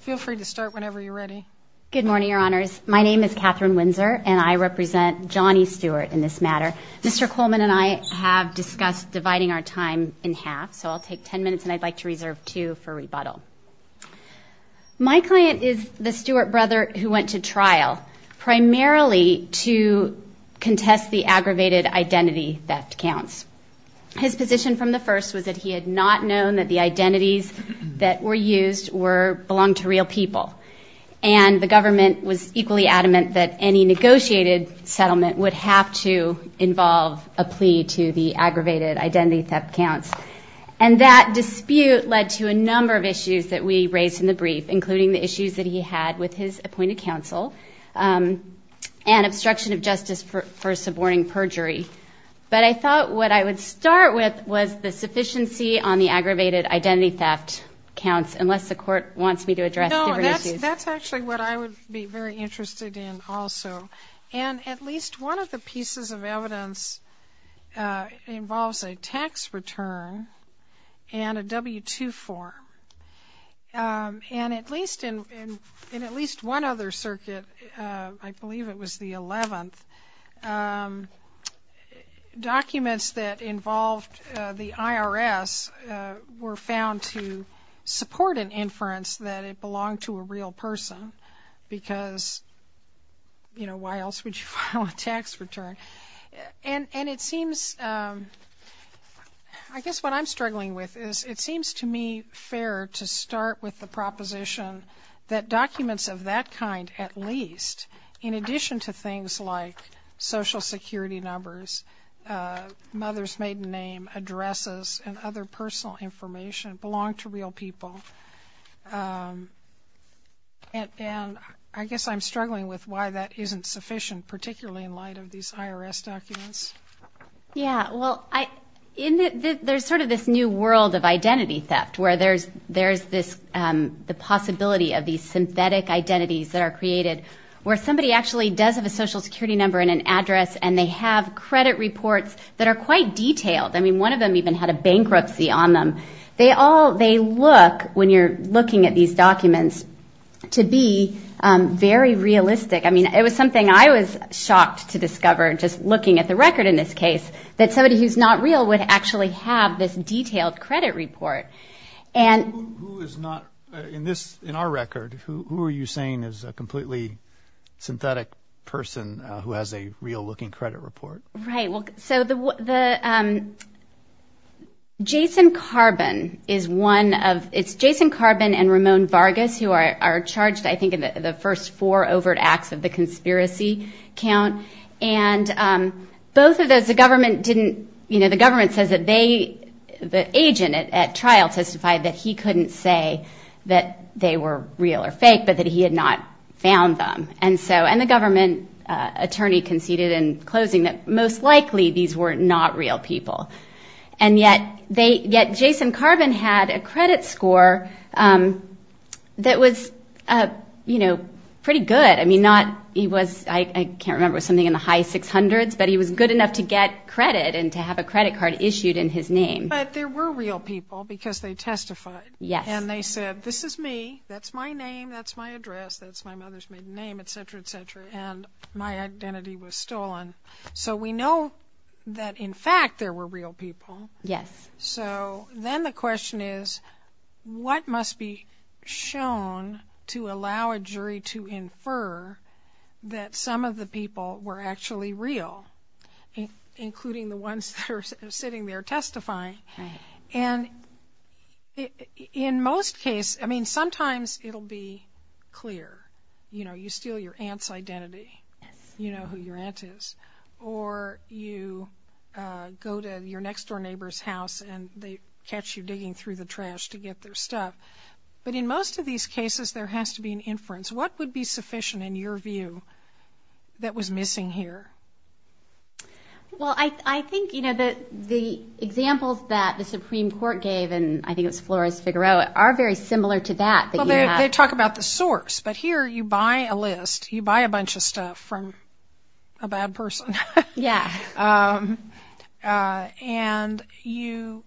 Feel free to start whenever you're ready. Good morning, your honors. My name is Catherine Windsor and I represent Johnny Stewart in this matter. Mr. Coleman and I have discussed dividing our time in half, so I'll take 10 minutes and I'd like to reserve two for rebuttal. My client is the Stewart brother who went to trial primarily to contest the aggravated identity theft counts. His position from the first was that he had not known that the identities that were used belonged to real people. And the government was equally adamant that any negotiated settlement would have to involve a plea to the aggravated identity theft counts. And that dispute led to a number of issues that we raised in the brief, including the issues that he had with his appointed counsel and obstruction of justice for suborning perjury. But I thought what I would start with was the sufficiency on the aggravated identity theft counts, unless the court wants me to address these issues. No, that's actually what I would be very interested in also. And at least one of the pieces of evidence involves a tax return and a W-2 form. And at least in at least one other circuit, I believe it was the 11th, documents that involved the IRS were found to support an inference that it belonged to a real person because, you know, why else would you file a tax return? And it seems, I guess what I'm struggling with is it seems to me fair to start with the proposition that documents of that kind at least, in addition to things like Social Security numbers, mother's maiden name, addresses, and other personal information, belong to real people. And I guess I'm struggling with why that isn't sufficient, particularly in light of these IRS documents. Yeah, well, I, in it there's sort of this new world of identity theft where there's there's this the possibility of these synthetic identities that are created where somebody actually does have a Social Security number and an address and they have credit reports that are quite detailed. I mean, one of them even had a bankruptcy on them. They all, they look, when you're looking at these documents, to be very realistic. I mean, it was something I was shocked to discover, just looking at the record in this case, that somebody who's not real would actually have this detailed credit report. And who is not, in this, in our record, who are you saying is a completely synthetic person who has a real-looking credit report? Right, well, so the Jason Carbon is one of, it's Jason Carbon and Ramon Vargas who are charged, I think, in the first four overt acts of the conspiracy count. And both of those, the government didn't, you know, the government says that they, the agent at trial testified that he couldn't say that they were real or fake, but that he had not found them. And so, and the government attorney conceded in closing that most likely these were not real people. And yet, they, yet Jason Carbon had a credit score that was, you know, pretty good. I mean, not, he was, I can't remember, something in the high 600s, but he was good enough to get credit and to have a credit card issued in his name. But there were real people because they testified. Yes. And they said, this is me, that's my name, that's my address, that's my mother's maiden name, etc., etc., and my identity was stolen. So we know that, in fact, there were real people. Yes. So then the question is, what must be shown to allow a jury to infer that some of the people were actually real, including the ones that are sitting there testifying. And in most cases, I mean, sometimes it'll be clear. You know, you steal your aunt's identity. Yes. You know who your aunt is. Or you go to your next-door neighbor's house and they catch you digging through the trash to get their stuff. But in most of these cases, there has to be an inference. What would be sufficient, in your view, that was missing here? Well, I think, you know, the examples that the Supreme Court gave, and I think it was Flores-Figueroa, are very similar to that. They talk about the source, but here you buy a list, you buy a bunch of stuff from a bad person. Yeah. And you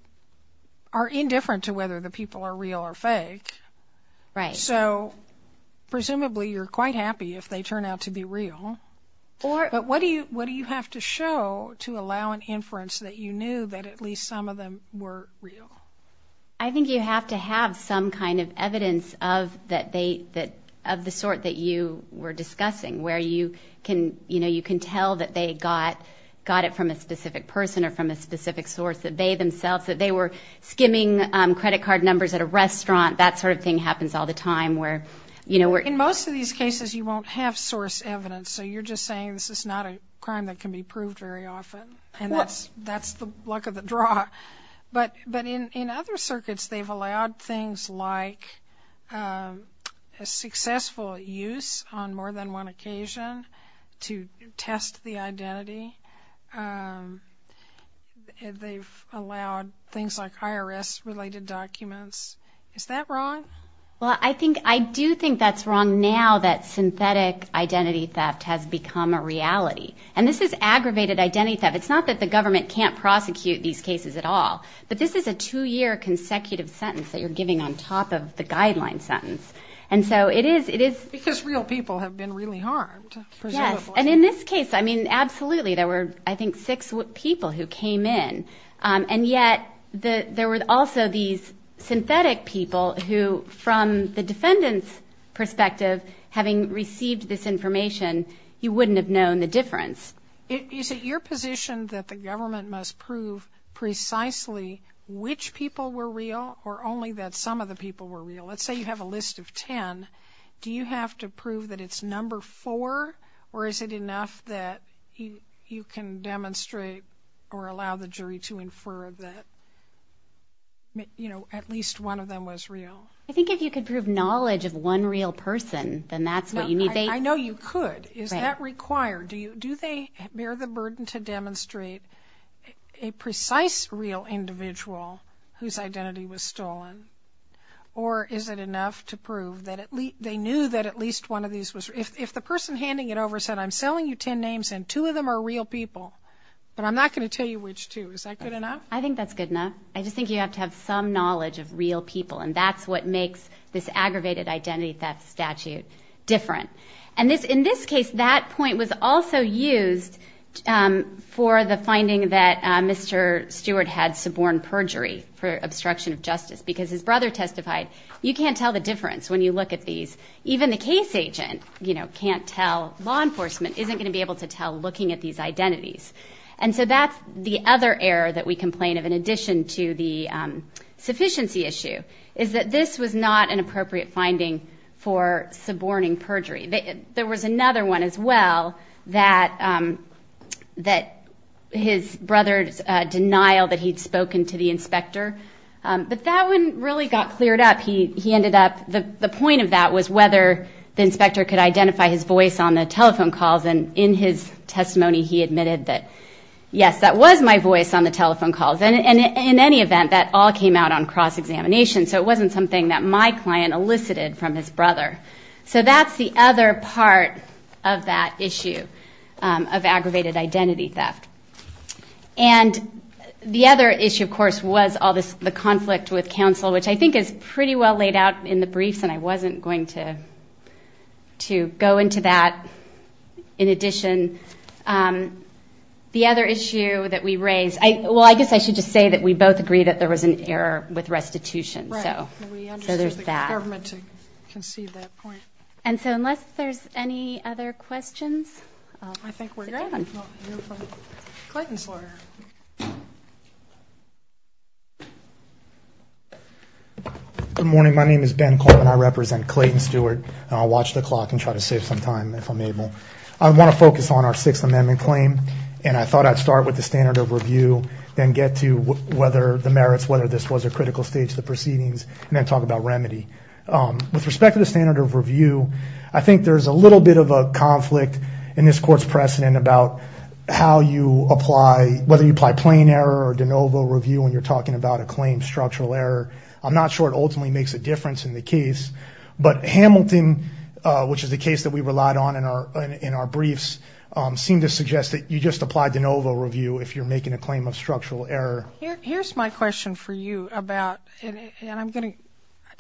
are indifferent to whether the people are real or fake. Right. So, presumably, you're quite happy if they turn out to be real. But what do you have to show to allow an inference that you knew that at least some of them were real? I think you have to have some kind of evidence of the sort that you were discussing, where you can, you know, you can tell that they got it from a specific person or from a specific source, that they themselves, that they were skimming credit card numbers at a restaurant. That sort of thing happens all the time, where, you know, we're... In most of these cases, you won't have source evidence. So you're just saying this is not a crime that can be proved very often, and that's that's the luck of the draw. But in other circuits, they've allowed things like a successful use on more than one occasion to test the identity. They've allowed things like IRS-related documents. Is that wrong? Well, I think, I And this is aggravated identity theft. It's not that the government can't prosecute these cases at all, but this is a two-year consecutive sentence that you're giving on top of the guideline sentence. And so it is... Because real people have been really harmed. Yes, and in this case, I mean, absolutely, there were, I think, six people who came in. And yet, there were also these synthetic people who, from the defendant's perspective, having received this information, you wouldn't have known the difference. Is it your position that the government must prove precisely which people were real, or only that some of the people were real? Let's say you have a list of ten. Do you have to prove that it's number four, or is it enough that you can demonstrate or allow the jury to infer that, you know, at least one of them was real? I think if you could prove knowledge of one real person, then that's what you need. I know you could. Is that required? Do they bear the burden to demonstrate a precise real individual whose identity was stolen, or is it enough to prove that at least they knew that at least one of these was... If the person handing it over said, I'm selling you ten names and two of them are real people, but I'm not going to tell you which two, is that good enough? I think that's good enough. I just think you have to have some knowledge of real people, and that's what makes this aggravated identity theft statute different. And in this case, that point was also used for the finding that Mr. Stewart had suborn perjury for obstruction of justice, because his brother testified, you can't tell the difference when you look at these. Even the case agent, you know, can't tell. Law enforcement isn't going to be able to tell looking at these identities. And so that's the other error that we complain of, in addition to the sufficiency issue, is that this was not an appropriate finding for suborning perjury. There was another one as well, that his brother's denial that he'd spoken to the inspector, but that one really got cleared up. He ended up... The point of that was whether the inspector could identify his voice on the telephone calls, and in his testimony he admitted that, yes, that was my voice on the examination, so it wasn't something that my client elicited from his brother. So that's the other part of that issue of aggravated identity theft. And the other issue, of course, was all this, the conflict with counsel, which I think is pretty well laid out in the briefs, and I wasn't going to go into that. In addition, the other issue that we raised... Well, I guess I should just say that we both agree that there was an error with restitution, so there's that. And so unless there's any other questions, I think we're good. Good morning, my name is Ben Coleman, I represent Clayton Stewart, and I'll watch the clock and try to save some time if I'm able. I want to focus on our Sixth Amendment claim, and I thought I'd start with the standard of review, then get to the merits, whether this was a critical stage of the proceedings, and then talk about remedy. With respect to the standard of review, I think there's a little bit of a conflict in this Court's precedent about how you apply, whether you apply plain error or de novo review when you're talking about a claim structural error. I'm not sure it ultimately makes a difference in the case, but Hamilton, which is the case that we relied on in our briefs, seemed to suggest that you just apply de novo review if you're making a claim of Here's my question for you about, and I'm going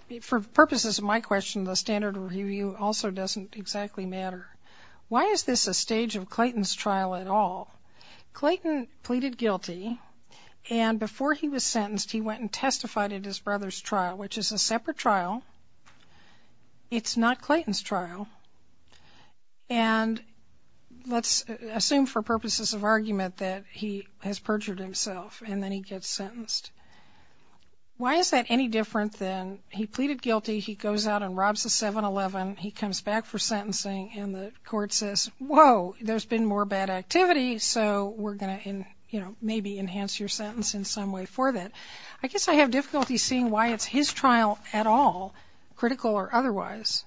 to, for purposes of my question, the standard review also doesn't exactly matter. Why is this a stage of Clayton's trial at all? Clayton pleaded guilty, and before he was sentenced, he went and testified at his brother's trial, which is a separate trial. It's not Clayton's trial, and let's assume for purposes of argument that he has perjured himself, and then he gets sentenced. Why is that any different than he pleaded guilty, he goes out and robs the 7-Eleven, he comes back for sentencing, and the Court says, whoa, there's been more bad activity, so we're going to maybe enhance your sentence in some way for that. I guess I have difficulty seeing why it's his trial at all, critical or otherwise.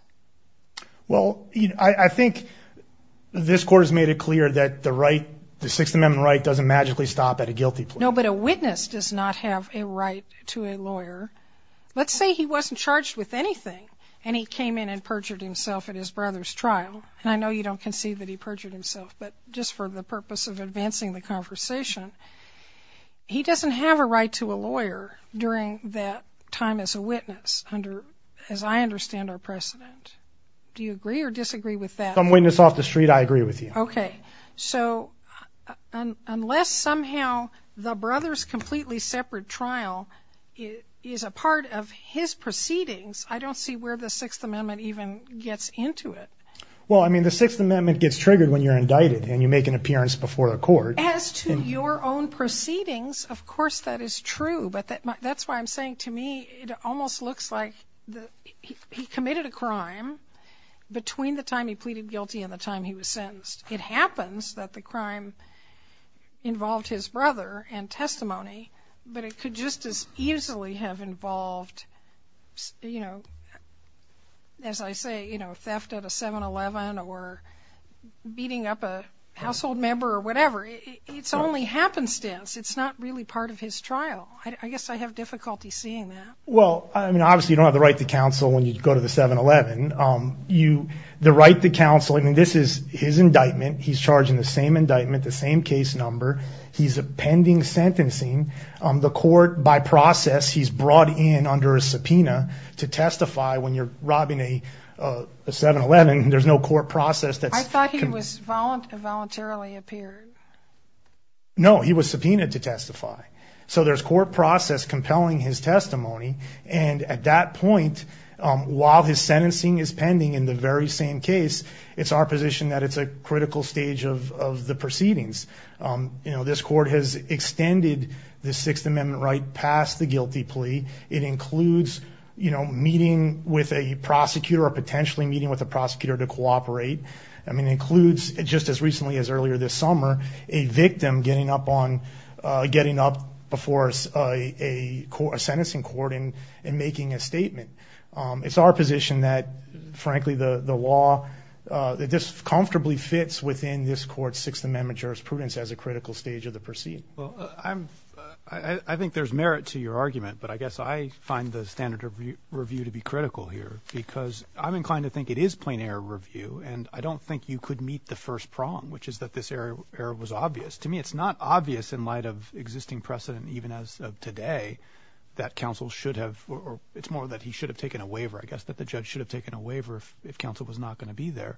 Well, I think this Court has made it clear that the right, the 6th Amendment right, doesn't magically stop at a guilty plea. No, but a witness does not have a right to a lawyer. Let's say he wasn't charged with anything, and he came in and perjured himself at his brother's trial, and I know you don't concede that he perjured himself, but just for the purpose of advancing the conversation, he doesn't have a right to a lawyer during that time as a witness under, as I understand our precedent. Do you agree or disagree with that? Some Unless somehow the brother's completely separate trial is a part of his proceedings, I don't see where the 6th Amendment even gets into it. Well, I mean the 6th Amendment gets triggered when you're indicted and you make an appearance before the Court. As to your own proceedings, of course that is true, but that's why I'm saying to me it almost looks like he committed a crime between the time he pleaded guilty and the time he was sentenced. It happens that the crime involved his brother and testimony, but it could just as easily have involved, you know, as I say, you know, theft at a 7-Eleven or beating up a household member or whatever. It's only happenstance. It's not really part of his trial. I guess I have difficulty seeing that. Well, I mean obviously you don't have the right to counsel when you go to the 7-Eleven. The right to counsel is the same indictment, the same case number. He's a pending sentencing. The court, by process, he's brought in under a subpoena to testify when you're robbing a 7-Eleven. There's no court process that's... I thought he was voluntarily appeared. No, he was subpoenaed to testify. So there's court process compelling his testimony and at that point, while his sentencing is pending in the very same case, it's our position that it's a critical stage of the proceedings. You know, this court has extended the Sixth Amendment right past the guilty plea. It includes, you know, meeting with a prosecutor or potentially meeting with a prosecutor to cooperate. I mean, it includes, just as recently as earlier this summer, a victim getting up on, getting up before a court, a sentencing court and making a statement. It's our position that, frankly, the law, that this comfortably fits within this court's Sixth Amendment jurisprudence as a critical stage of the proceeding. Well, I think there's merit to your argument, but I guess I find the standard of review to be critical here because I'm inclined to think it is plain error review and I don't think you could meet the first prong, which is that this error was obvious. To me, it's not obvious in light of existing precedent, even as of today, that counsel should have, or it's more that he should have taken a waiver, I guess, that the judge should have taken a waiver if counsel was not going to be there.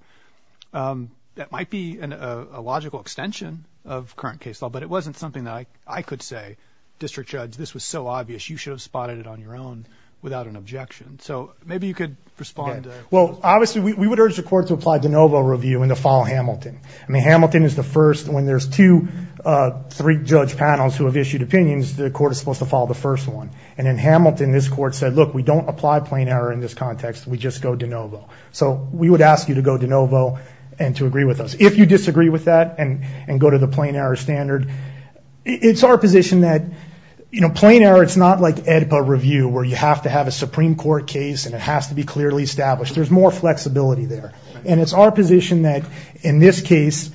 That might be a logical extension of current case law, but it wasn't something that I could say, District Judge, this was so obvious you should have spotted it on your own without an objection. So, maybe you could respond. Well, obviously, we would urge the court to apply de novo review and to follow Hamilton. I mean, Hamilton is the first, when there's two, three judge panels who have issued opinions, the court is supposed to follow the first one. And in Hamilton, this court said, look, we don't apply plain error in this context, we just go de novo. So, we would ask you to go de novo and to agree with us. If you disagree with that and go to the plain error standard, it's our position that, you know, plain error, it's not like AEDPA review where you have to have a Supreme Court case and it has to be clearly established. There's more flexibility there. And it's our position that, in this case,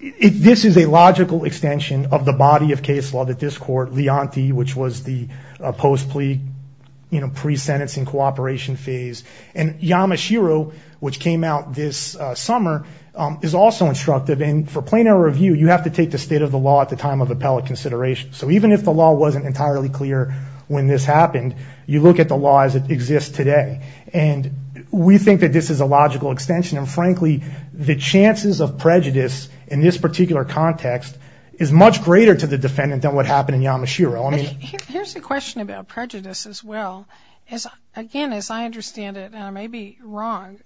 this is a logical extension of the body of case law that this court, Leonti, which was the post-plea, you know, pre-sentencing cooperation phase, and Yamashiro, which came out this summer, is also instructive. And for plain error review, you have to take the state of the law at the time of appellate consideration. So, even if the law wasn't entirely clear when this happened, you look at the law as it exists today. And we think that this is a logical extension. And frankly, the chances of prejudice in this particular context is much greater to the defendant than what happened in Yamashiro. I mean... Here's a question about prejudice as well. Again, as I understand it, and I may be wrong,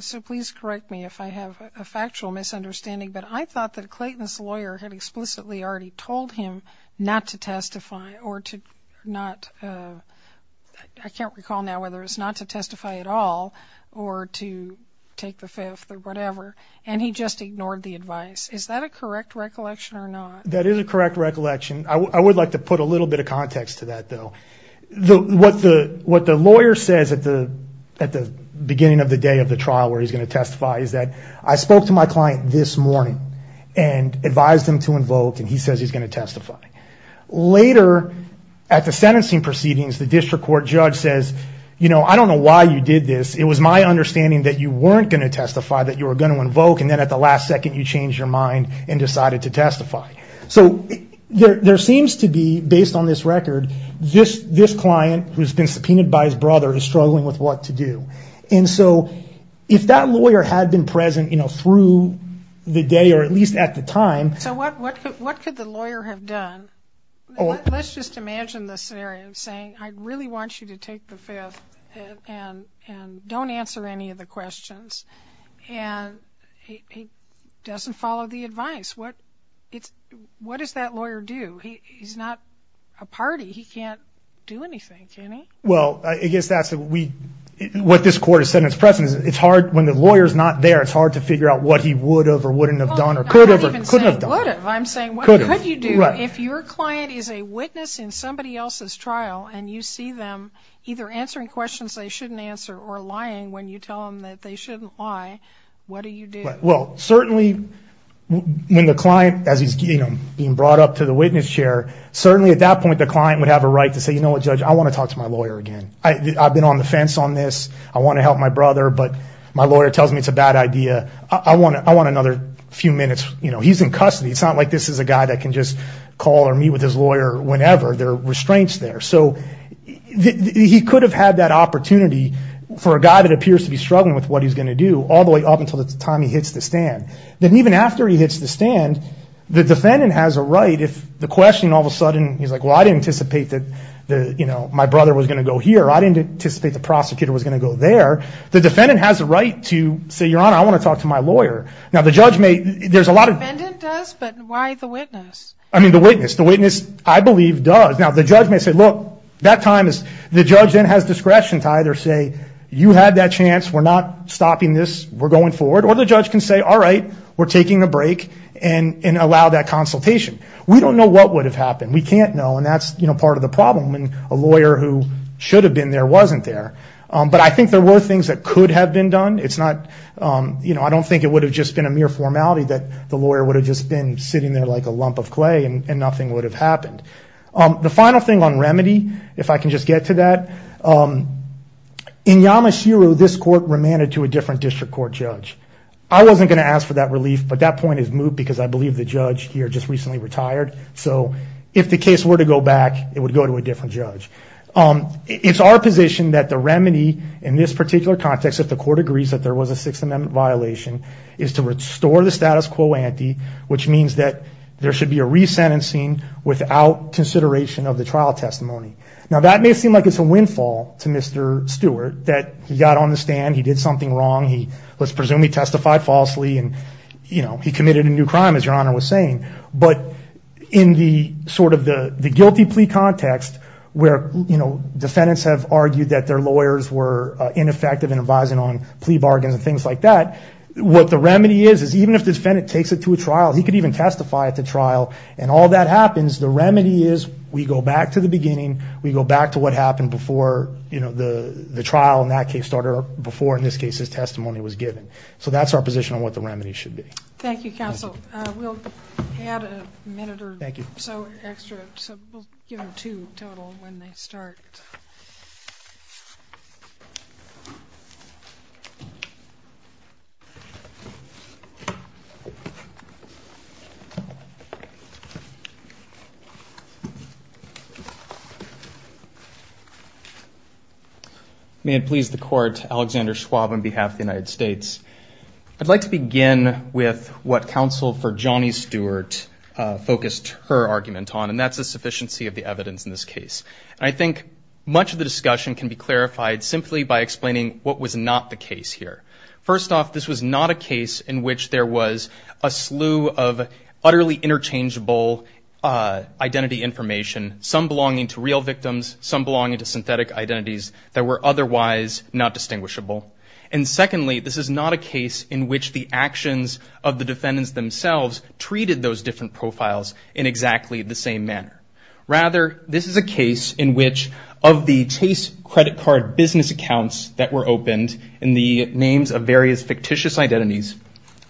so please correct me if I have a factual misunderstanding, but I thought that Clayton's lawyer had explicitly already told him not to testify or to not... I can't recall now whether it's not to testify at all, or to take the fifth or whatever, and he just ignored the advice. Is that a correct recollection or not? That is a correct recollection. I would like to put a little bit of context to that, though. What the lawyer says at the beginning of the day of the trial where he's going to testify is that, I spoke to my client this morning and advised him to invoke, and he says he's going to testify. Later, at the sentencing proceedings, the district court judge says, I don't know why you did this. It was my understanding that you weren't going to testify, that you were going to invoke, and then at the last second, you changed your mind and decided to testify. So there seems to be, based on this record, this client who's been subpoenaed by his brother is struggling with what to do. And so if that lawyer had been present through the day, or at least at the time... So what could the lawyer have done? Let's just imagine the scenario of saying, I really want you to take the fifth and don't answer any of the questions, and he doesn't follow the advice. What does that lawyer do? He's not a party. He can't do anything, can he? Well, I guess that's what this court has said in its presence. It's hard when the lawyer's not there, it's hard to figure out what he would have or wouldn't have done or could have or couldn't have done. I'm not even saying would have. I'm saying what could you do if your client is a witness in somebody else's trial and you see them either answering questions they shouldn't answer or lying when you tell them that they shouldn't lie, what do you do? Well, certainly when the client, as he's being brought up to the witness chair, certainly at that point the client would have a right to say, you know what, Judge, I want to talk to my lawyer again. I've been on the fence on this. I want to help my brother, but my lawyer tells me it's a bad idea. I want another few minutes. He's in custody. It's not like this is a guy that can just call or meet with his lawyer whenever. There are restraints there. So he could have had that opportunity for a guy that appears to be struggling with what he's going to do all the way up until the time he hits the stand. Then even after he hits the stand, the defendant has a right if the question all of a sudden, he's like, well, I didn't anticipate that my brother was going to go here. I didn't anticipate the prosecutor was going to go there. The defendant has a right to say, Your Honor, I want to talk to my lawyer. The witness, I believe, does. Now the judge may say, look, that time the judge then has discretion to either say, you had that chance. We're not stopping this. We're going forward. Or the judge can say, all right, we're taking a break and allow that consultation. We don't know what would have happened. We can't know, and that's part of the problem. A lawyer who should have been there wasn't there. But I think there were things that I don't think it would have just been a mere formality that the lawyer would have just been sitting there like a lump of clay and nothing would have happened. The final thing on remedy, if I can just get to that. In Yamashiro, this court remanded to a different district court judge. I wasn't going to ask for that relief, but that point is moot because I believe the judge here just recently retired. So if the case were to go back, it would go to a different judge. It's our position that the remedy in this particular context, if the court agrees that there was a Sixth Amendment violation, is to restore the status quo ante, which means that there should be a resentencing without consideration of the trial testimony. Now, that may seem like it's a windfall to Mr. Stewart that he got on the stand, he did something wrong, he was presumably testified falsely, and he committed a new crime, as Your Honor was saying. But in the guilty plea context where defendants have argued that their lawyers were ineffective in advising on plea bargains and things like that, what the remedy is, is even if the defendant takes it to a trial, he could even testify at the trial, and all that happens, the remedy is we go back to the beginning, we go back to what happened before the trial in that case started or before, in this case, his testimony was given. So that's our position on what the remedy should be. Thank you, counsel. We'll add a minute or so extra, so we'll give them two total when they start. May it please the court, Alexander Schwab on behalf of the United States. I'd like to begin with what counsel for Johnny Stewart focused her argument on, and that's a sufficiency of the evidence in this case. I think much of the discussion can be clarified simply by explaining what was not the case here. First off, this was not a case in which there was a slew of utterly interchangeable identity information, some belonging to real victims, some belonging to synthetic identities that were otherwise not distinguishable. And secondly, this is not a case in which the actions of the defendants themselves treated those different profiles in exactly the same manner. Rather, this is a case in which of the Chase credit card business accounts that were opened in the names of various fictitious identities,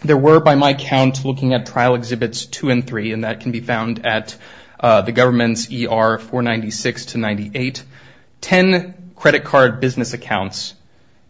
there were, by my count, looking at trial exhibits two and three, and that can be found at the government's ER 496 to 98, ten credit card business accounts,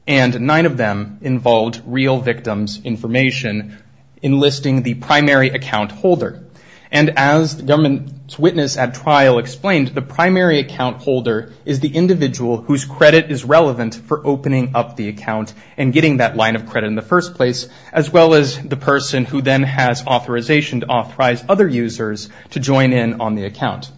and nine of them involved real victims information enlisting the primary account holder. And as the government's witness at trial explained, the primary account holder is the individual whose credit is relevant for opening up the account and getting that line of credit in the first place, as well as the person who then has authorization to authorize other users to join in on the account.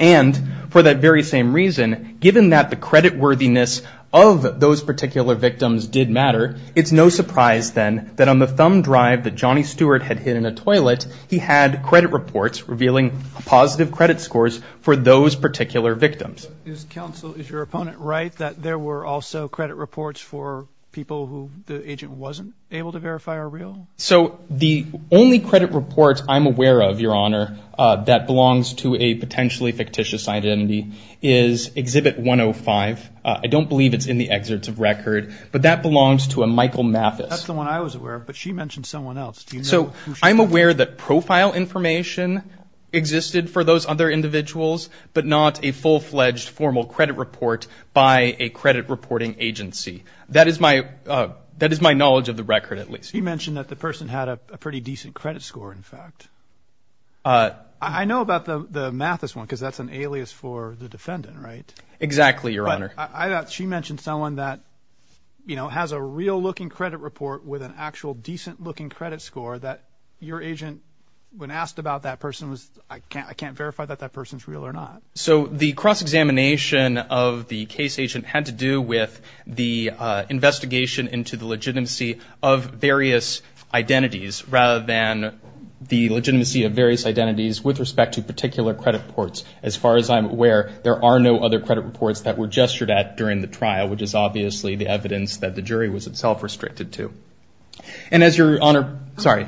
And for that very same reason, given that the credit worthiness of those particular victims did matter, it's no surprise then that on the thumb drive that Johnny Stewart had hidden a toilet, he had credit reports revealing positive credit scores for those particular victims. Is counsel, is your opponent right that there were also credit reports for people who the agent wasn't able to verify are real? So the only credit reports I'm aware of, your honor, that belongs to a potentially fictitious identity is exhibit 105. I don't believe it's in the excerpts of record, but that one I was aware of, but she mentioned someone else. So I'm aware that profile information existed for those other individuals, but not a full-fledged formal credit report by a credit reporting agency. That is my, that is my knowledge of the record, at least. You mentioned that the person had a pretty decent credit score, in fact. I know about the Mathis one, because that's an alias for the defendant, right? Exactly, your honor. I thought she mentioned someone that, you know, has a real-looking credit report with an actual decent-looking credit score that your agent, when asked about that person, was, I can't, I can't verify that that person's real or not. So the cross examination of the case agent had to do with the investigation into the legitimacy of various identities, rather than the legitimacy of various identities with respect to particular credit reports. As far as I'm aware, there are no other credit reports that were gestured at during the trial, which is obviously the evidence that the jury was itself restricted to. And as your honor, sorry,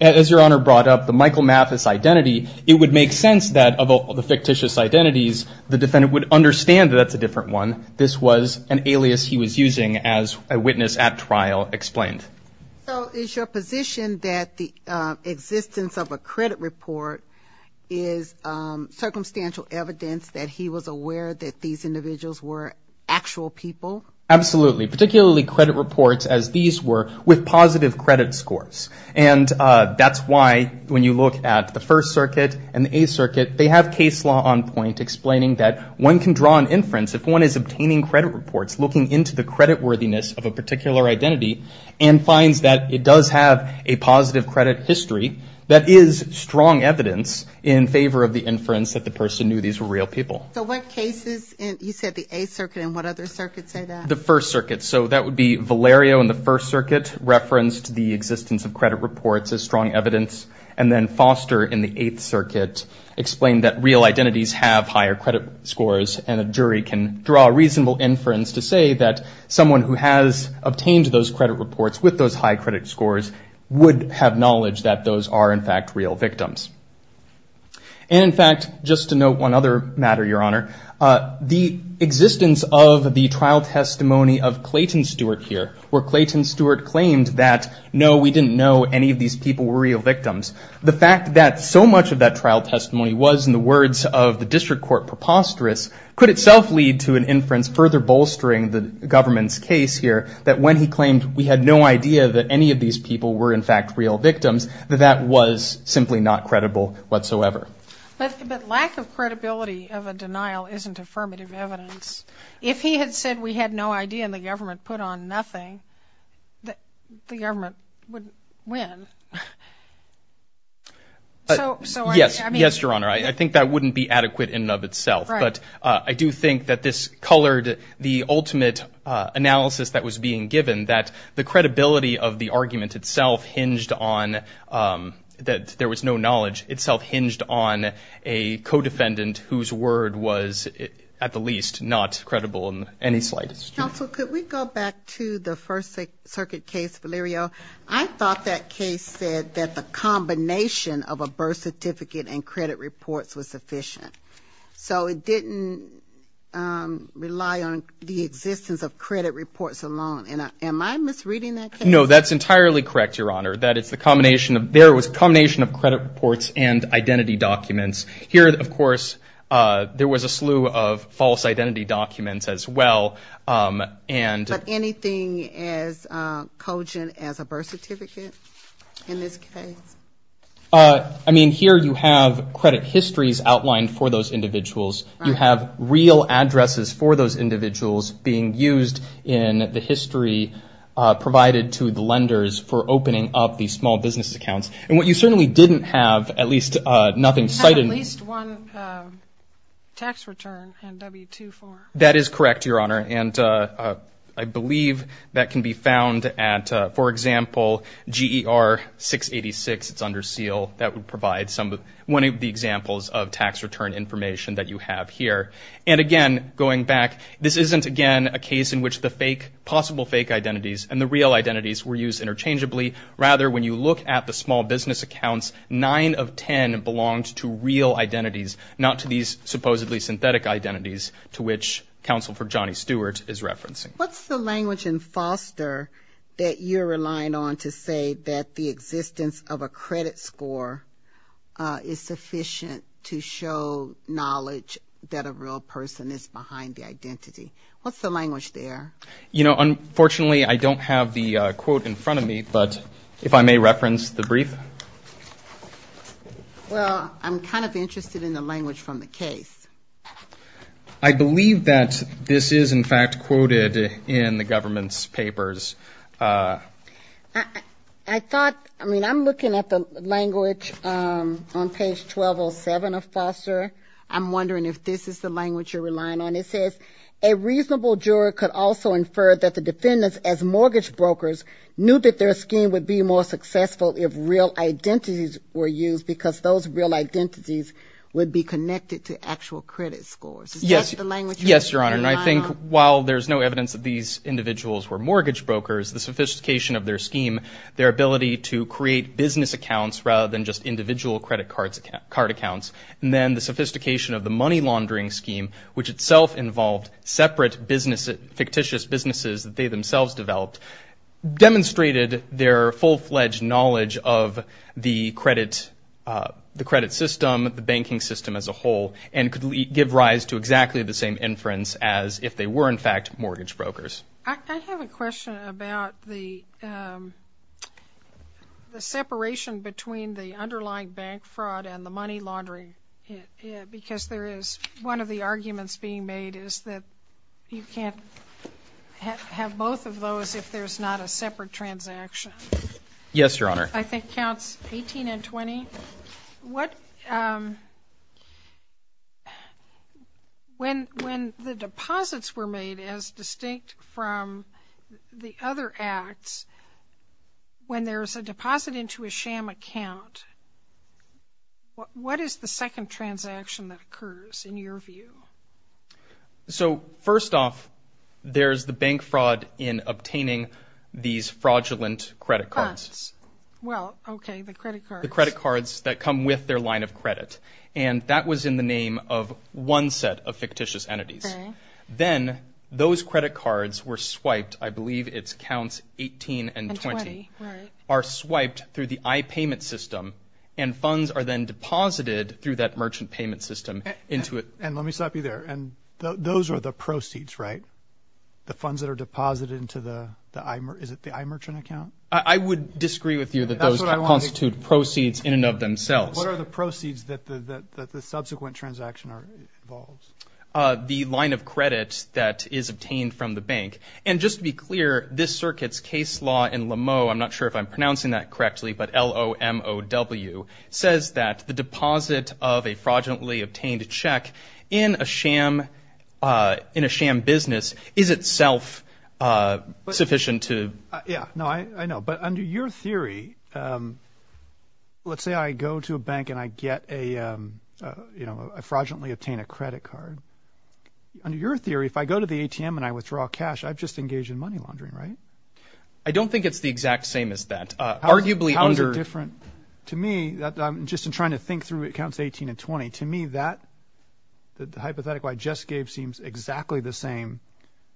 as your honor brought up the Michael Mathis identity, it would make sense that of all the fictitious identities, the defendant would understand that that's a different one. This was an alias he was using as a witness at trial explained. So is your position that the existence of a credit report is circumstantial evidence that he was aware that these individuals were actual people? Absolutely, particularly credit reports as these were with positive credit scores. And that's why when you look at the First Circuit and the Eighth Circuit, they have case law on point explaining that one can draw an inference if one is obtaining credit reports looking into the credit worthiness of a particular identity and finds that it does have a positive credit history, that is strong evidence in favor of the inference that the person knew these were real people. So what cases, you said the Eighth Circuit, and what other circuits say that? The First Circuit. So that would be Valerio in the First Circuit referenced the existence of credit reports as strong evidence, and then Foster in the Eighth Circuit explained that real identities have higher credit scores, and a jury can draw a reasonable inference to say that someone who has obtained those credit reports with those high credit scores would have knowledge that those are, in fact, real victims. And in fact, just to note one other matter, Your Honor, the existence of the trial testimony of Clayton Stewart here, where Clayton Stewart claimed that, no, we didn't know any of these people were real victims, the fact that so much of that trial testimony was, in the words of the district court preposterous, could itself lead to an inference further bolstering the government's case here, that when he claimed we had no idea that any of these people were, in fact, real victims, that that was simply not credible whatsoever. But lack of credibility of a denial isn't affirmative evidence. If he had said we had no idea and the government put on nothing, the government would win. Yes, Your Honor, I think that wouldn't be adequate in and of itself, but I do think that this colored the ultimate analysis that was being given, that the credibility of the argument itself hinged on, that there was no knowledge itself hinged on a co-defendant whose word was, at the least, not credible in any slightest. Counsel, could we go back to the First Circuit case, Valerio? I thought that case said that the combination of a birth certificate and rely on the existence of credit reports alone. Am I misreading that case? No, that's entirely correct, Your Honor, that it's the combination of, there was a combination of credit reports and identity documents. Here, of course, there was a slew of false identity documents as well. But anything as cogent as a birth certificate in this case? I mean, here you have credit histories outlined for those individuals. You have real addresses for those individuals being used in the history provided to the lenders for opening up the small business accounts. And what you certainly didn't have, at least nothing cited. At least one tax return in W-2-4. That is correct, Your Honor, and I believe that can be found at, for example, GER 686, it's under seal, that tax return information that you have here. And again, going back, this isn't, again, a case in which the fake, possible fake identities and the real identities were used interchangeably. Rather, when you look at the small business accounts, nine of 10 belonged to real identities, not to these supposedly synthetic identities to which counsel for Johnny Stewart is referencing. What's the language in Foster that you're relying on to say that the existence of a credit score is sufficient to show knowledge that a real person is behind the identity? What's the language there? You know, unfortunately, I don't have the quote in front of me, but if I may reference the brief. Well, I'm kind of interested in the language from the case. I believe that this is, in fact, quoted in the government's papers. I thought, I mean, I'm looking at the language on page 1207 of Foster. I'm wondering if this is the language you're relying on. It says, a reasonable juror could also infer that the defendants as mortgage brokers knew that their scheme would be more successful if real identities were used because those real identities would be connected to actual credit scores. Yes, Your Honor, and I think while there's no evidence that these individuals were mortgage brokers, the sophistication of their scheme, their ability to create business accounts rather than just individual credit card accounts, and then the sophistication of the money laundering scheme, which itself involved separate fictitious businesses that they themselves developed, demonstrated their full-fledged knowledge of the credit system, the banking system as a whole, and could give rise to exactly the same inference as if they were, in fact, mortgage brokers. I have a question about the separation between the underlying bank fraud and the money laundering, because there is one of the arguments being made is that you can't have both of those if there's not a separate transaction. Yes, Your Honor. I think counts 18 and 20. When the deposits were made as distinct from the other acts, when there's a deposit into a sham account, what is the second transaction that occurs, in your view? So, first off, there's the bank fraud in obtaining these fraudulent credit cards. Well, okay, the credit cards. The credit cards that come with their line of credit, and that was in the name of one set of fictitious entities. Then, those credit cards were swiped, I believe it's counts 18 and 20, are swiped through the I-payment system, and funds are then deposited through that merchant payment system into it. And let me stop you there. And those are the proceeds, right? The funds that are deposited into the, is it the I-merchant account? I would disagree with you that those constitute proceeds in and of themselves. What are the proceeds that the subsequent transaction involves? The line of credit that is obtained from the bank. And just to be clear, this circuit's case law in Lameau, I'm not sure if I'm pronouncing that correctly, but L-O-M-O-W, says that the deposit of a fraudulently obtained check in a sham business is itself sufficient to... Yeah, no, I know. But under your theory, let's say I go to a bank and I fraudulently obtain a credit card. Under your theory, if I go to the ATM and I withdraw cash, I've just engaged in money laundering, right? I don't think it's the exact same as that. Arguably under... To me, just in trying to think through accounts 18 and 20, to me that, the hypothetical I just gave seems exactly the same,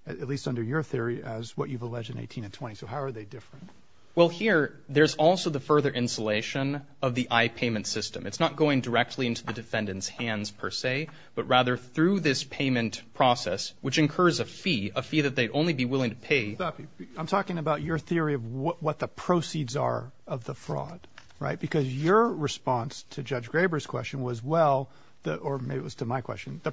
at least under your theory, as what you've alleged in 18 and 20. So how are they different? Well here, there's also the further insulation of the I-payment system. It's not going directly into the defendant's hands per se, but rather through this payment process, which incurs a fee, a fee that they'd only be willing to pay... I'm talking about your theory of what the proceeds are of the fraud, right? Because your response to Judge Graber's question was, well, or maybe it was to my question, the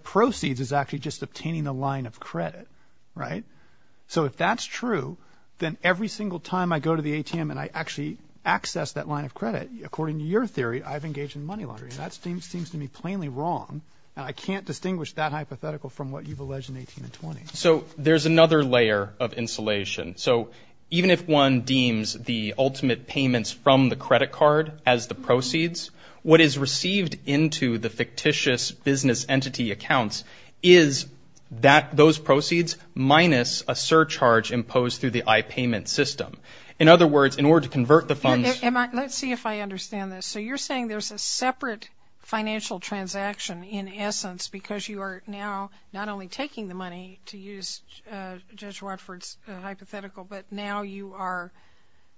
If that's true, then every single time I go to the ATM and I actually access that line of credit, according to your theory, I've engaged in money laundering. That seems to me plainly wrong, and I can't distinguish that hypothetical from what you've alleged in 18 and 20. So there's another layer of insulation. So even if one deems the ultimate payments from the credit card as the proceeds, what is received into the fictitious business entity accounts is those proceeds minus a surcharge imposed through the I-payment system. In other words, in order to convert the funds... Let's see if I understand this. So you're saying there's a separate financial transaction in essence because you are now not only taking the money, to use Judge Watford's hypothetical, but now you are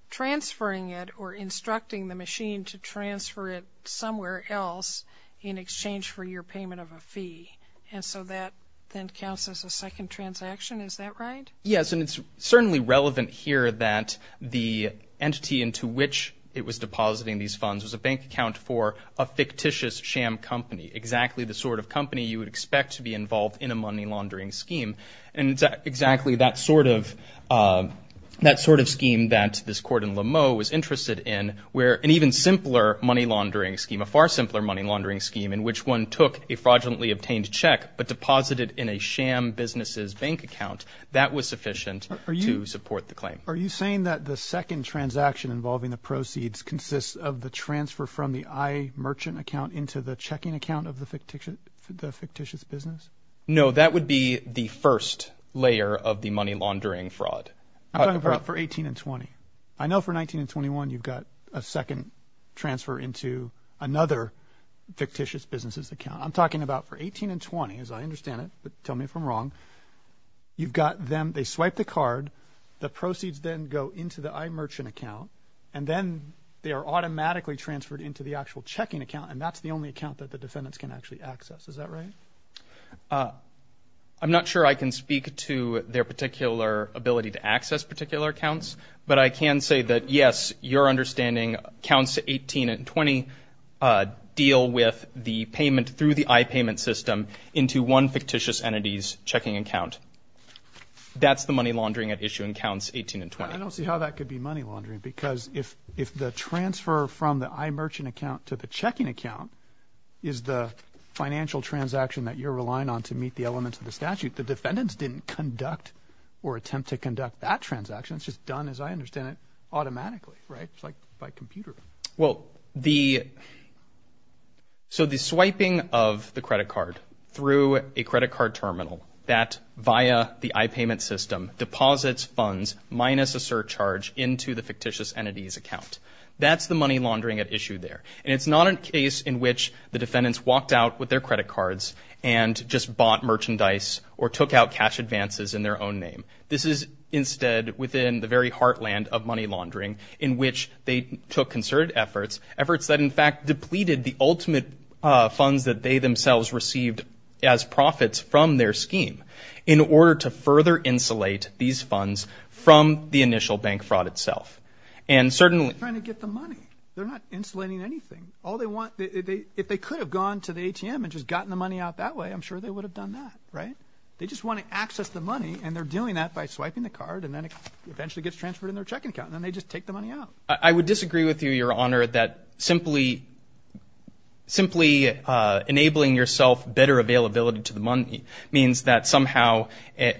transferring it or instructing the machine to transfer it somewhere else in exchange for your payment of a fee. And so that then counts as a second transaction. Is that right? Yes. And it's certainly relevant here that the entity into which it was depositing these funds was a bank account for a fictitious sham company, exactly the sort of company you would expect to be involved in a money laundering scheme. And it's exactly that sort of scheme that this court in Lameau was interested in, where an even simpler money laundering scheme, a far simpler money laundering scheme in which one took a fraudulently obtained check but deposited in a sham business's bank account, that was sufficient to support the claim. Are you saying that the second transaction involving the proceeds consists of the transfer from the I-merchant account into the checking account of the fictitious business? No, that would be the first layer of the money laundering fraud. I'm talking about for 18 and 20. I know for 19 and 21 you've got a second transfer into another fictitious business's account. I'm talking about for 18 and 20, as I understand it, but tell me if I'm wrong. You've got them, they swipe the card, the proceeds then go into the I-merchant account, and then they are automatically transferred into the actual checking account, and that's the only account that the defendants can actually access. Is that right? I'm not sure I can speak to their particular ability to access particular accounts, but I can say that, yes, your understanding counts 18 and 20 deal with the payment through the I-payment system into one fictitious entity's checking account. That's the money laundering at issue in counts 18 and 20. I don't see how that could be money laundering, because if the transfer from the I-merchant account to the checking account is the financial transaction that you're relying on to meet the elements of the statute, the defendants didn't conduct or attempt to conduct that transaction. It's just done, as I understand it, automatically, right? It's like by computer. So the swiping of the credit card through a credit card terminal that, via the I-payment system, deposits funds minus a surcharge into the fictitious entity's account, that's the And it's not a case in which the defendants walked out with their credit cards and just bought merchandise or took out cash advances in their own name. This is, instead, within the very heartland of money laundering, in which they took concerted efforts, efforts that, in fact, depleted the ultimate funds that they themselves received as profits from their scheme, in order to further insulate these funds from the initial bank fraud itself. And certainly... They're trying to get the money. They're not insulating anything. All they want, if they could have gone to the ATM and just gotten the money out that way, I'm sure they would have done that, right? They just want to access the money, and they're doing that by swiping the card, and then it eventually gets transferred in their checking account, and then they just take the money out. I would disagree with you, Your Honor, that simply enabling yourself better availability to the money means that somehow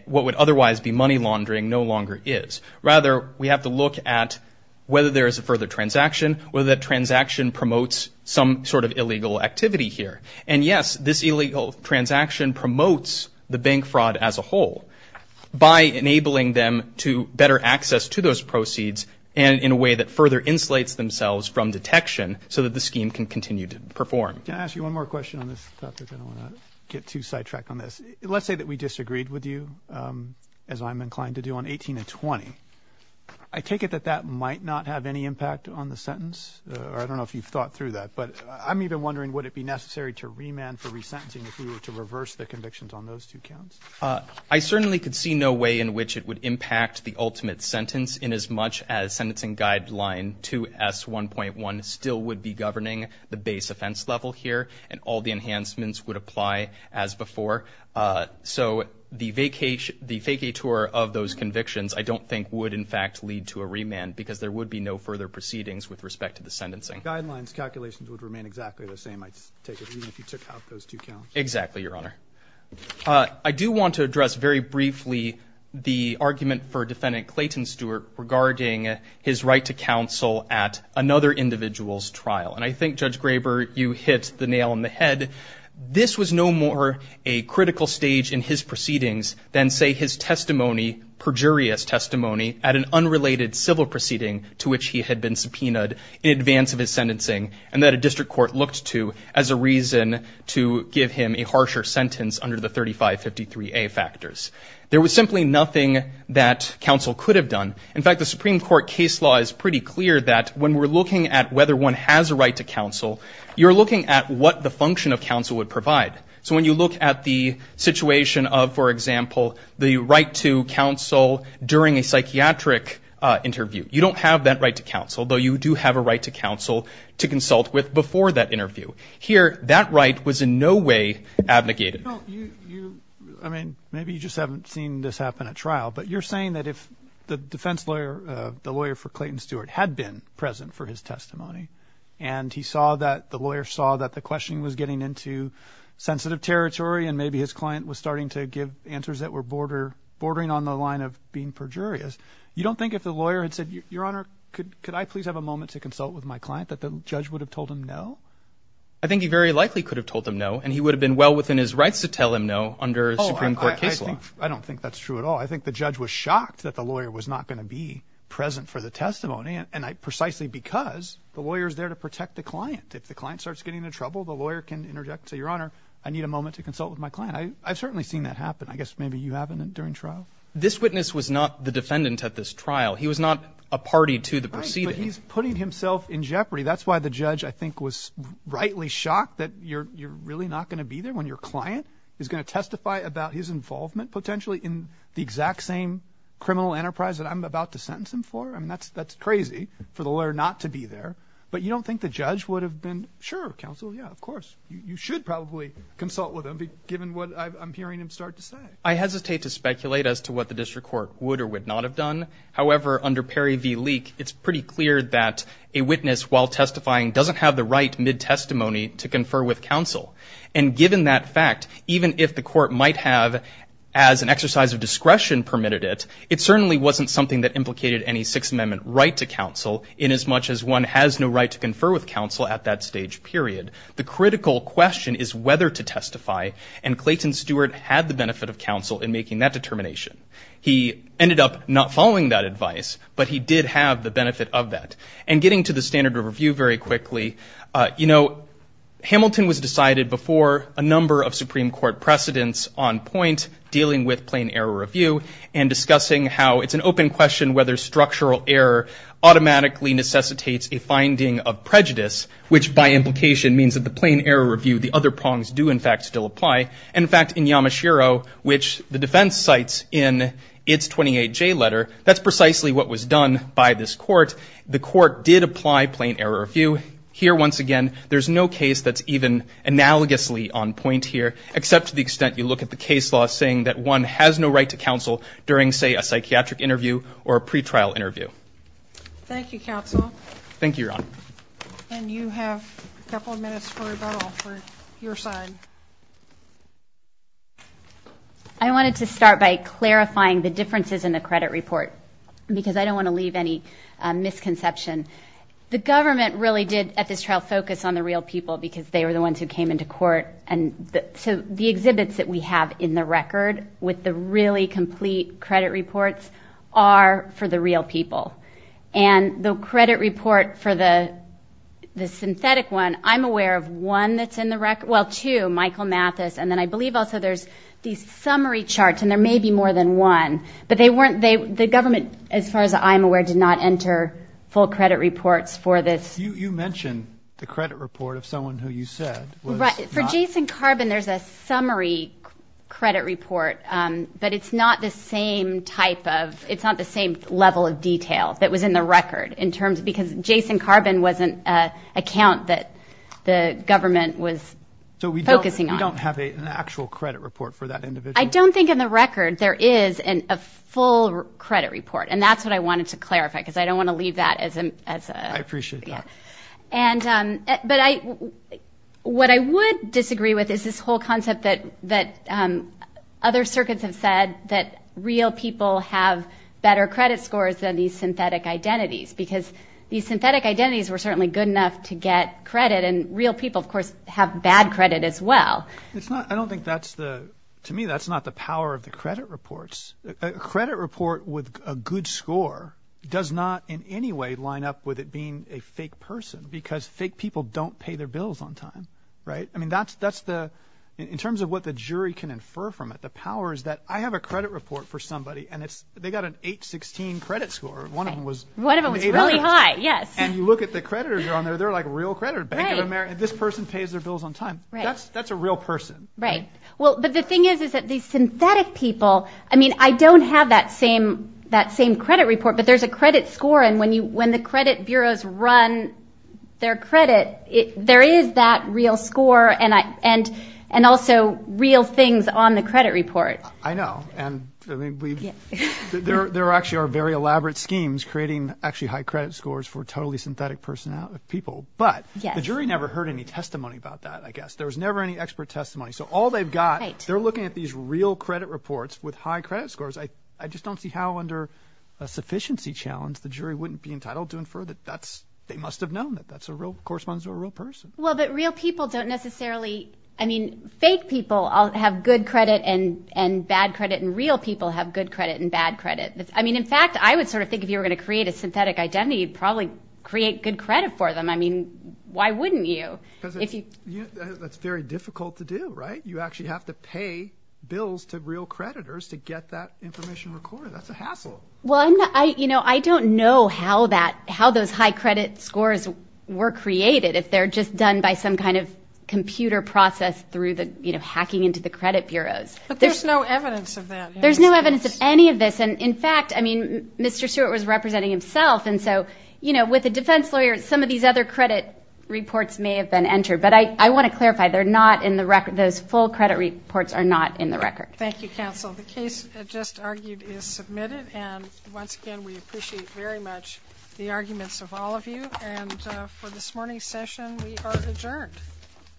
what would otherwise be money laundering no longer is. Rather, we have to look at whether there is a further transaction, whether that transaction promotes some sort of illegal activity here. And yes, this illegal transaction promotes the bank fraud as a whole by enabling them to better access to those proceeds and in a way that further insulates themselves from detection so that the scheme can continue to perform. Can I ask you one more question on this topic? I don't want to get too sidetracked on this. Let's say that we disagreed with you, as I'm inclined to do, on 18 and 20. I take it that that might not have any impact on the sentence. I don't know if you've thought through that, but I'm even wondering would it be necessary to remand for resentencing if we were to reverse the convictions on those two counts? I certainly could see no way in which it would impact the ultimate sentence inasmuch as sentencing guideline 2S1.1 still would be governing the base offense level here, and all the enhancements would apply as before. So the vacatur of those convictions I don't think would in fact lead to a remand because there would be no further proceedings with respect to the sentencing. Guidelines calculations would remain exactly the same, I take it, even if you took out those two counts? Exactly, Your Honor. I do want to address very briefly the argument for Defendant Clayton Stewart regarding his right to counsel at another individual's trial. And I think, Judge this was no more a critical stage in his proceedings than, say, his testimony, perjurious testimony at an unrelated civil proceeding to which he had been subpoenaed in advance of his sentencing and that a district court looked to as a reason to give him a harsher sentence under the 3553A factors. There was simply nothing that counsel could have done. In fact, the Supreme Court case law is pretty clear that when we're looking at whether one has a right to counsel, you're looking at what the function of counsel would provide. So when you look at the situation of, for example, the right to counsel during a psychiatric interview, you don't have that right to counsel, though you do have a right to counsel to consult with before that interview. Here, that right was in no way abnegated. Well, you, I mean, maybe you just haven't seen this happen at trial, but you're saying that if the defense lawyer, the lawyer for Clayton Stewart had been present for his testimony and he saw that, the lawyer saw that the questioning was getting into sensitive territory and maybe his client was starting to give answers that were bordering on the line of being perjurious, you don't think if the lawyer had said, Your Honor, could I please have a moment to consult with my client, that the judge would have told him no? I think he very likely could have told him no, and he would have been well within his rights to tell him no under a Supreme Court case law. I don't think that's true at all. I think the judge was shocked that the lawyer was there to protect the client. If the client starts getting into trouble, the lawyer can interject and say, Your Honor, I need a moment to consult with my client. I've certainly seen that happen. I guess maybe you haven't during trial. This witness was not the defendant at this trial. He was not a party to the proceeding. Right, but he's putting himself in jeopardy. That's why the judge, I think, was rightly shocked that you're really not going to be there when your client is going to testify about his involvement potentially in the exact same criminal enterprise that I'm about to But you don't think the judge would have been, sure, counsel, yeah, of course. You should probably consult with him, given what I'm hearing him start to say. I hesitate to speculate as to what the district court would or would not have done. However, under Perry v. Leek, it's pretty clear that a witness, while testifying, doesn't have the right, mid-testimony, to confer with counsel. And given that fact, even if the court might have, as an exercise of discretion permitted it, it certainly wasn't something that implicated any Sixth Amendment right to counsel, inasmuch as one has no right to confer with counsel at that stage period. The critical question is whether to testify, and Clayton Stewart had the benefit of counsel in making that determination. He ended up not following that advice, but he did have the benefit of that. And getting to the standard of review very quickly, you know, Hamilton was decided before a number of Supreme Court precedents on point, dealing with plain error review, and discussing how it's an open question whether structural error automatically necessitates a finding of prejudice, which by implication means that the plain error review, the other prongs do in fact still apply. In fact, in Yamashiro, which the defense cites in its 28J letter, that's precisely what was done by this court. The court did apply plain error review. Here, once again, there's no case that's even analogously on point here, except to the extent you look at the case law saying that one has no right to counsel during, say, a psychiatric interview or a pretrial interview. Thank you, counsel. Thank you, Your Honor. And you have a couple of minutes for rebuttal for your side. I wanted to start by clarifying the differences in the credit report, because I don't want to leave any misconception. The government really did, at this trial, focus on the real people, because they were the ones who came into court. And so the exhibits that we have in the record, with the really complete credit reports, are for the real people. And the credit report for the synthetic one, I'm aware of one that's in the record, well, two, Michael Mathis, and then I believe also there's these summary charts, and there may be more than one. But they weren't, the government, as far as I'm aware, did not enter full credit reports for this. You mentioned the credit report of someone who you said was not... For Jason Carbin, there's a summary credit report, but it's not the same type of, it's not the same level of detail that was in the record, in terms of, because Jason Carbin wasn't an account that the government was focusing on. So we don't have an actual credit report for that individual? I don't think in the record there is a full credit report. And that's what I wanted to clarify, because I don't want to leave that as a... I appreciate that. And, but I, what I would disagree with is this whole concept that other circuits have said that real people have better credit scores than these synthetic identities, because these synthetic identities were certainly good enough to get credit, and real people, of course, have bad credit as well. It's not, I don't think that's the, to me, that's not the power of the credit reports. A credit report with a good score does not in any way line up with it being a fake person, because fake people don't pay their bills on time, right? I mean, that's the, in terms of what the jury can infer from it, the power is that I have a credit report for somebody, and it's, they got an 816 credit score, and one of them was... One of them was really high, yes. And you look at the creditors on there, they're like real creditors. Bank of America, this person pays their bills on time. That's a real person. Right. Well, but the thing is, is that these synthetic people, I mean, I don't have that same credit report, but there's a credit score, and when the credit bureaus run their credit, there is that real score, and also real things on the credit report. I know, and there actually are very elaborate schemes creating actually high credit scores for totally synthetic people, but the jury never heard any testimony about that, I guess. There was never any expert testimony, so all they've got, they're looking at these real credit reports with high credit scores. I just don't see how under a sufficiency challenge the jury wouldn't be entitled to infer that that's, they must have known that that's a real, corresponds to a real person. Well, but real people don't necessarily, I mean, fake people have good credit and bad credit, and real people have good credit and bad credit. I mean, in fact, I would sort of think if you were going to create a synthetic identity, you'd probably create good credit for them. I mean, why wouldn't you? Because it's very difficult to do, right? You actually have to pay bills to real creditors to get that information recorded. That's a hassle. Well, I don't know how those high credit scores were created, if they're just done by some kind of computer process through the, you know, hacking into the credit bureaus. But there's no evidence of that. There's no evidence of any of this, and in fact, I mean, Mr. Stewart was representing himself, and so, you know, with a defense lawyer, some of these other credit reports may have been entered. But I want to clarify, they're not in the record, those full credit reports are not in the record. Thank you, counsel. The case just argued is submitted, and once again, we appreciate very much the arguments of all of you, and for this morning's session, we are adjourned.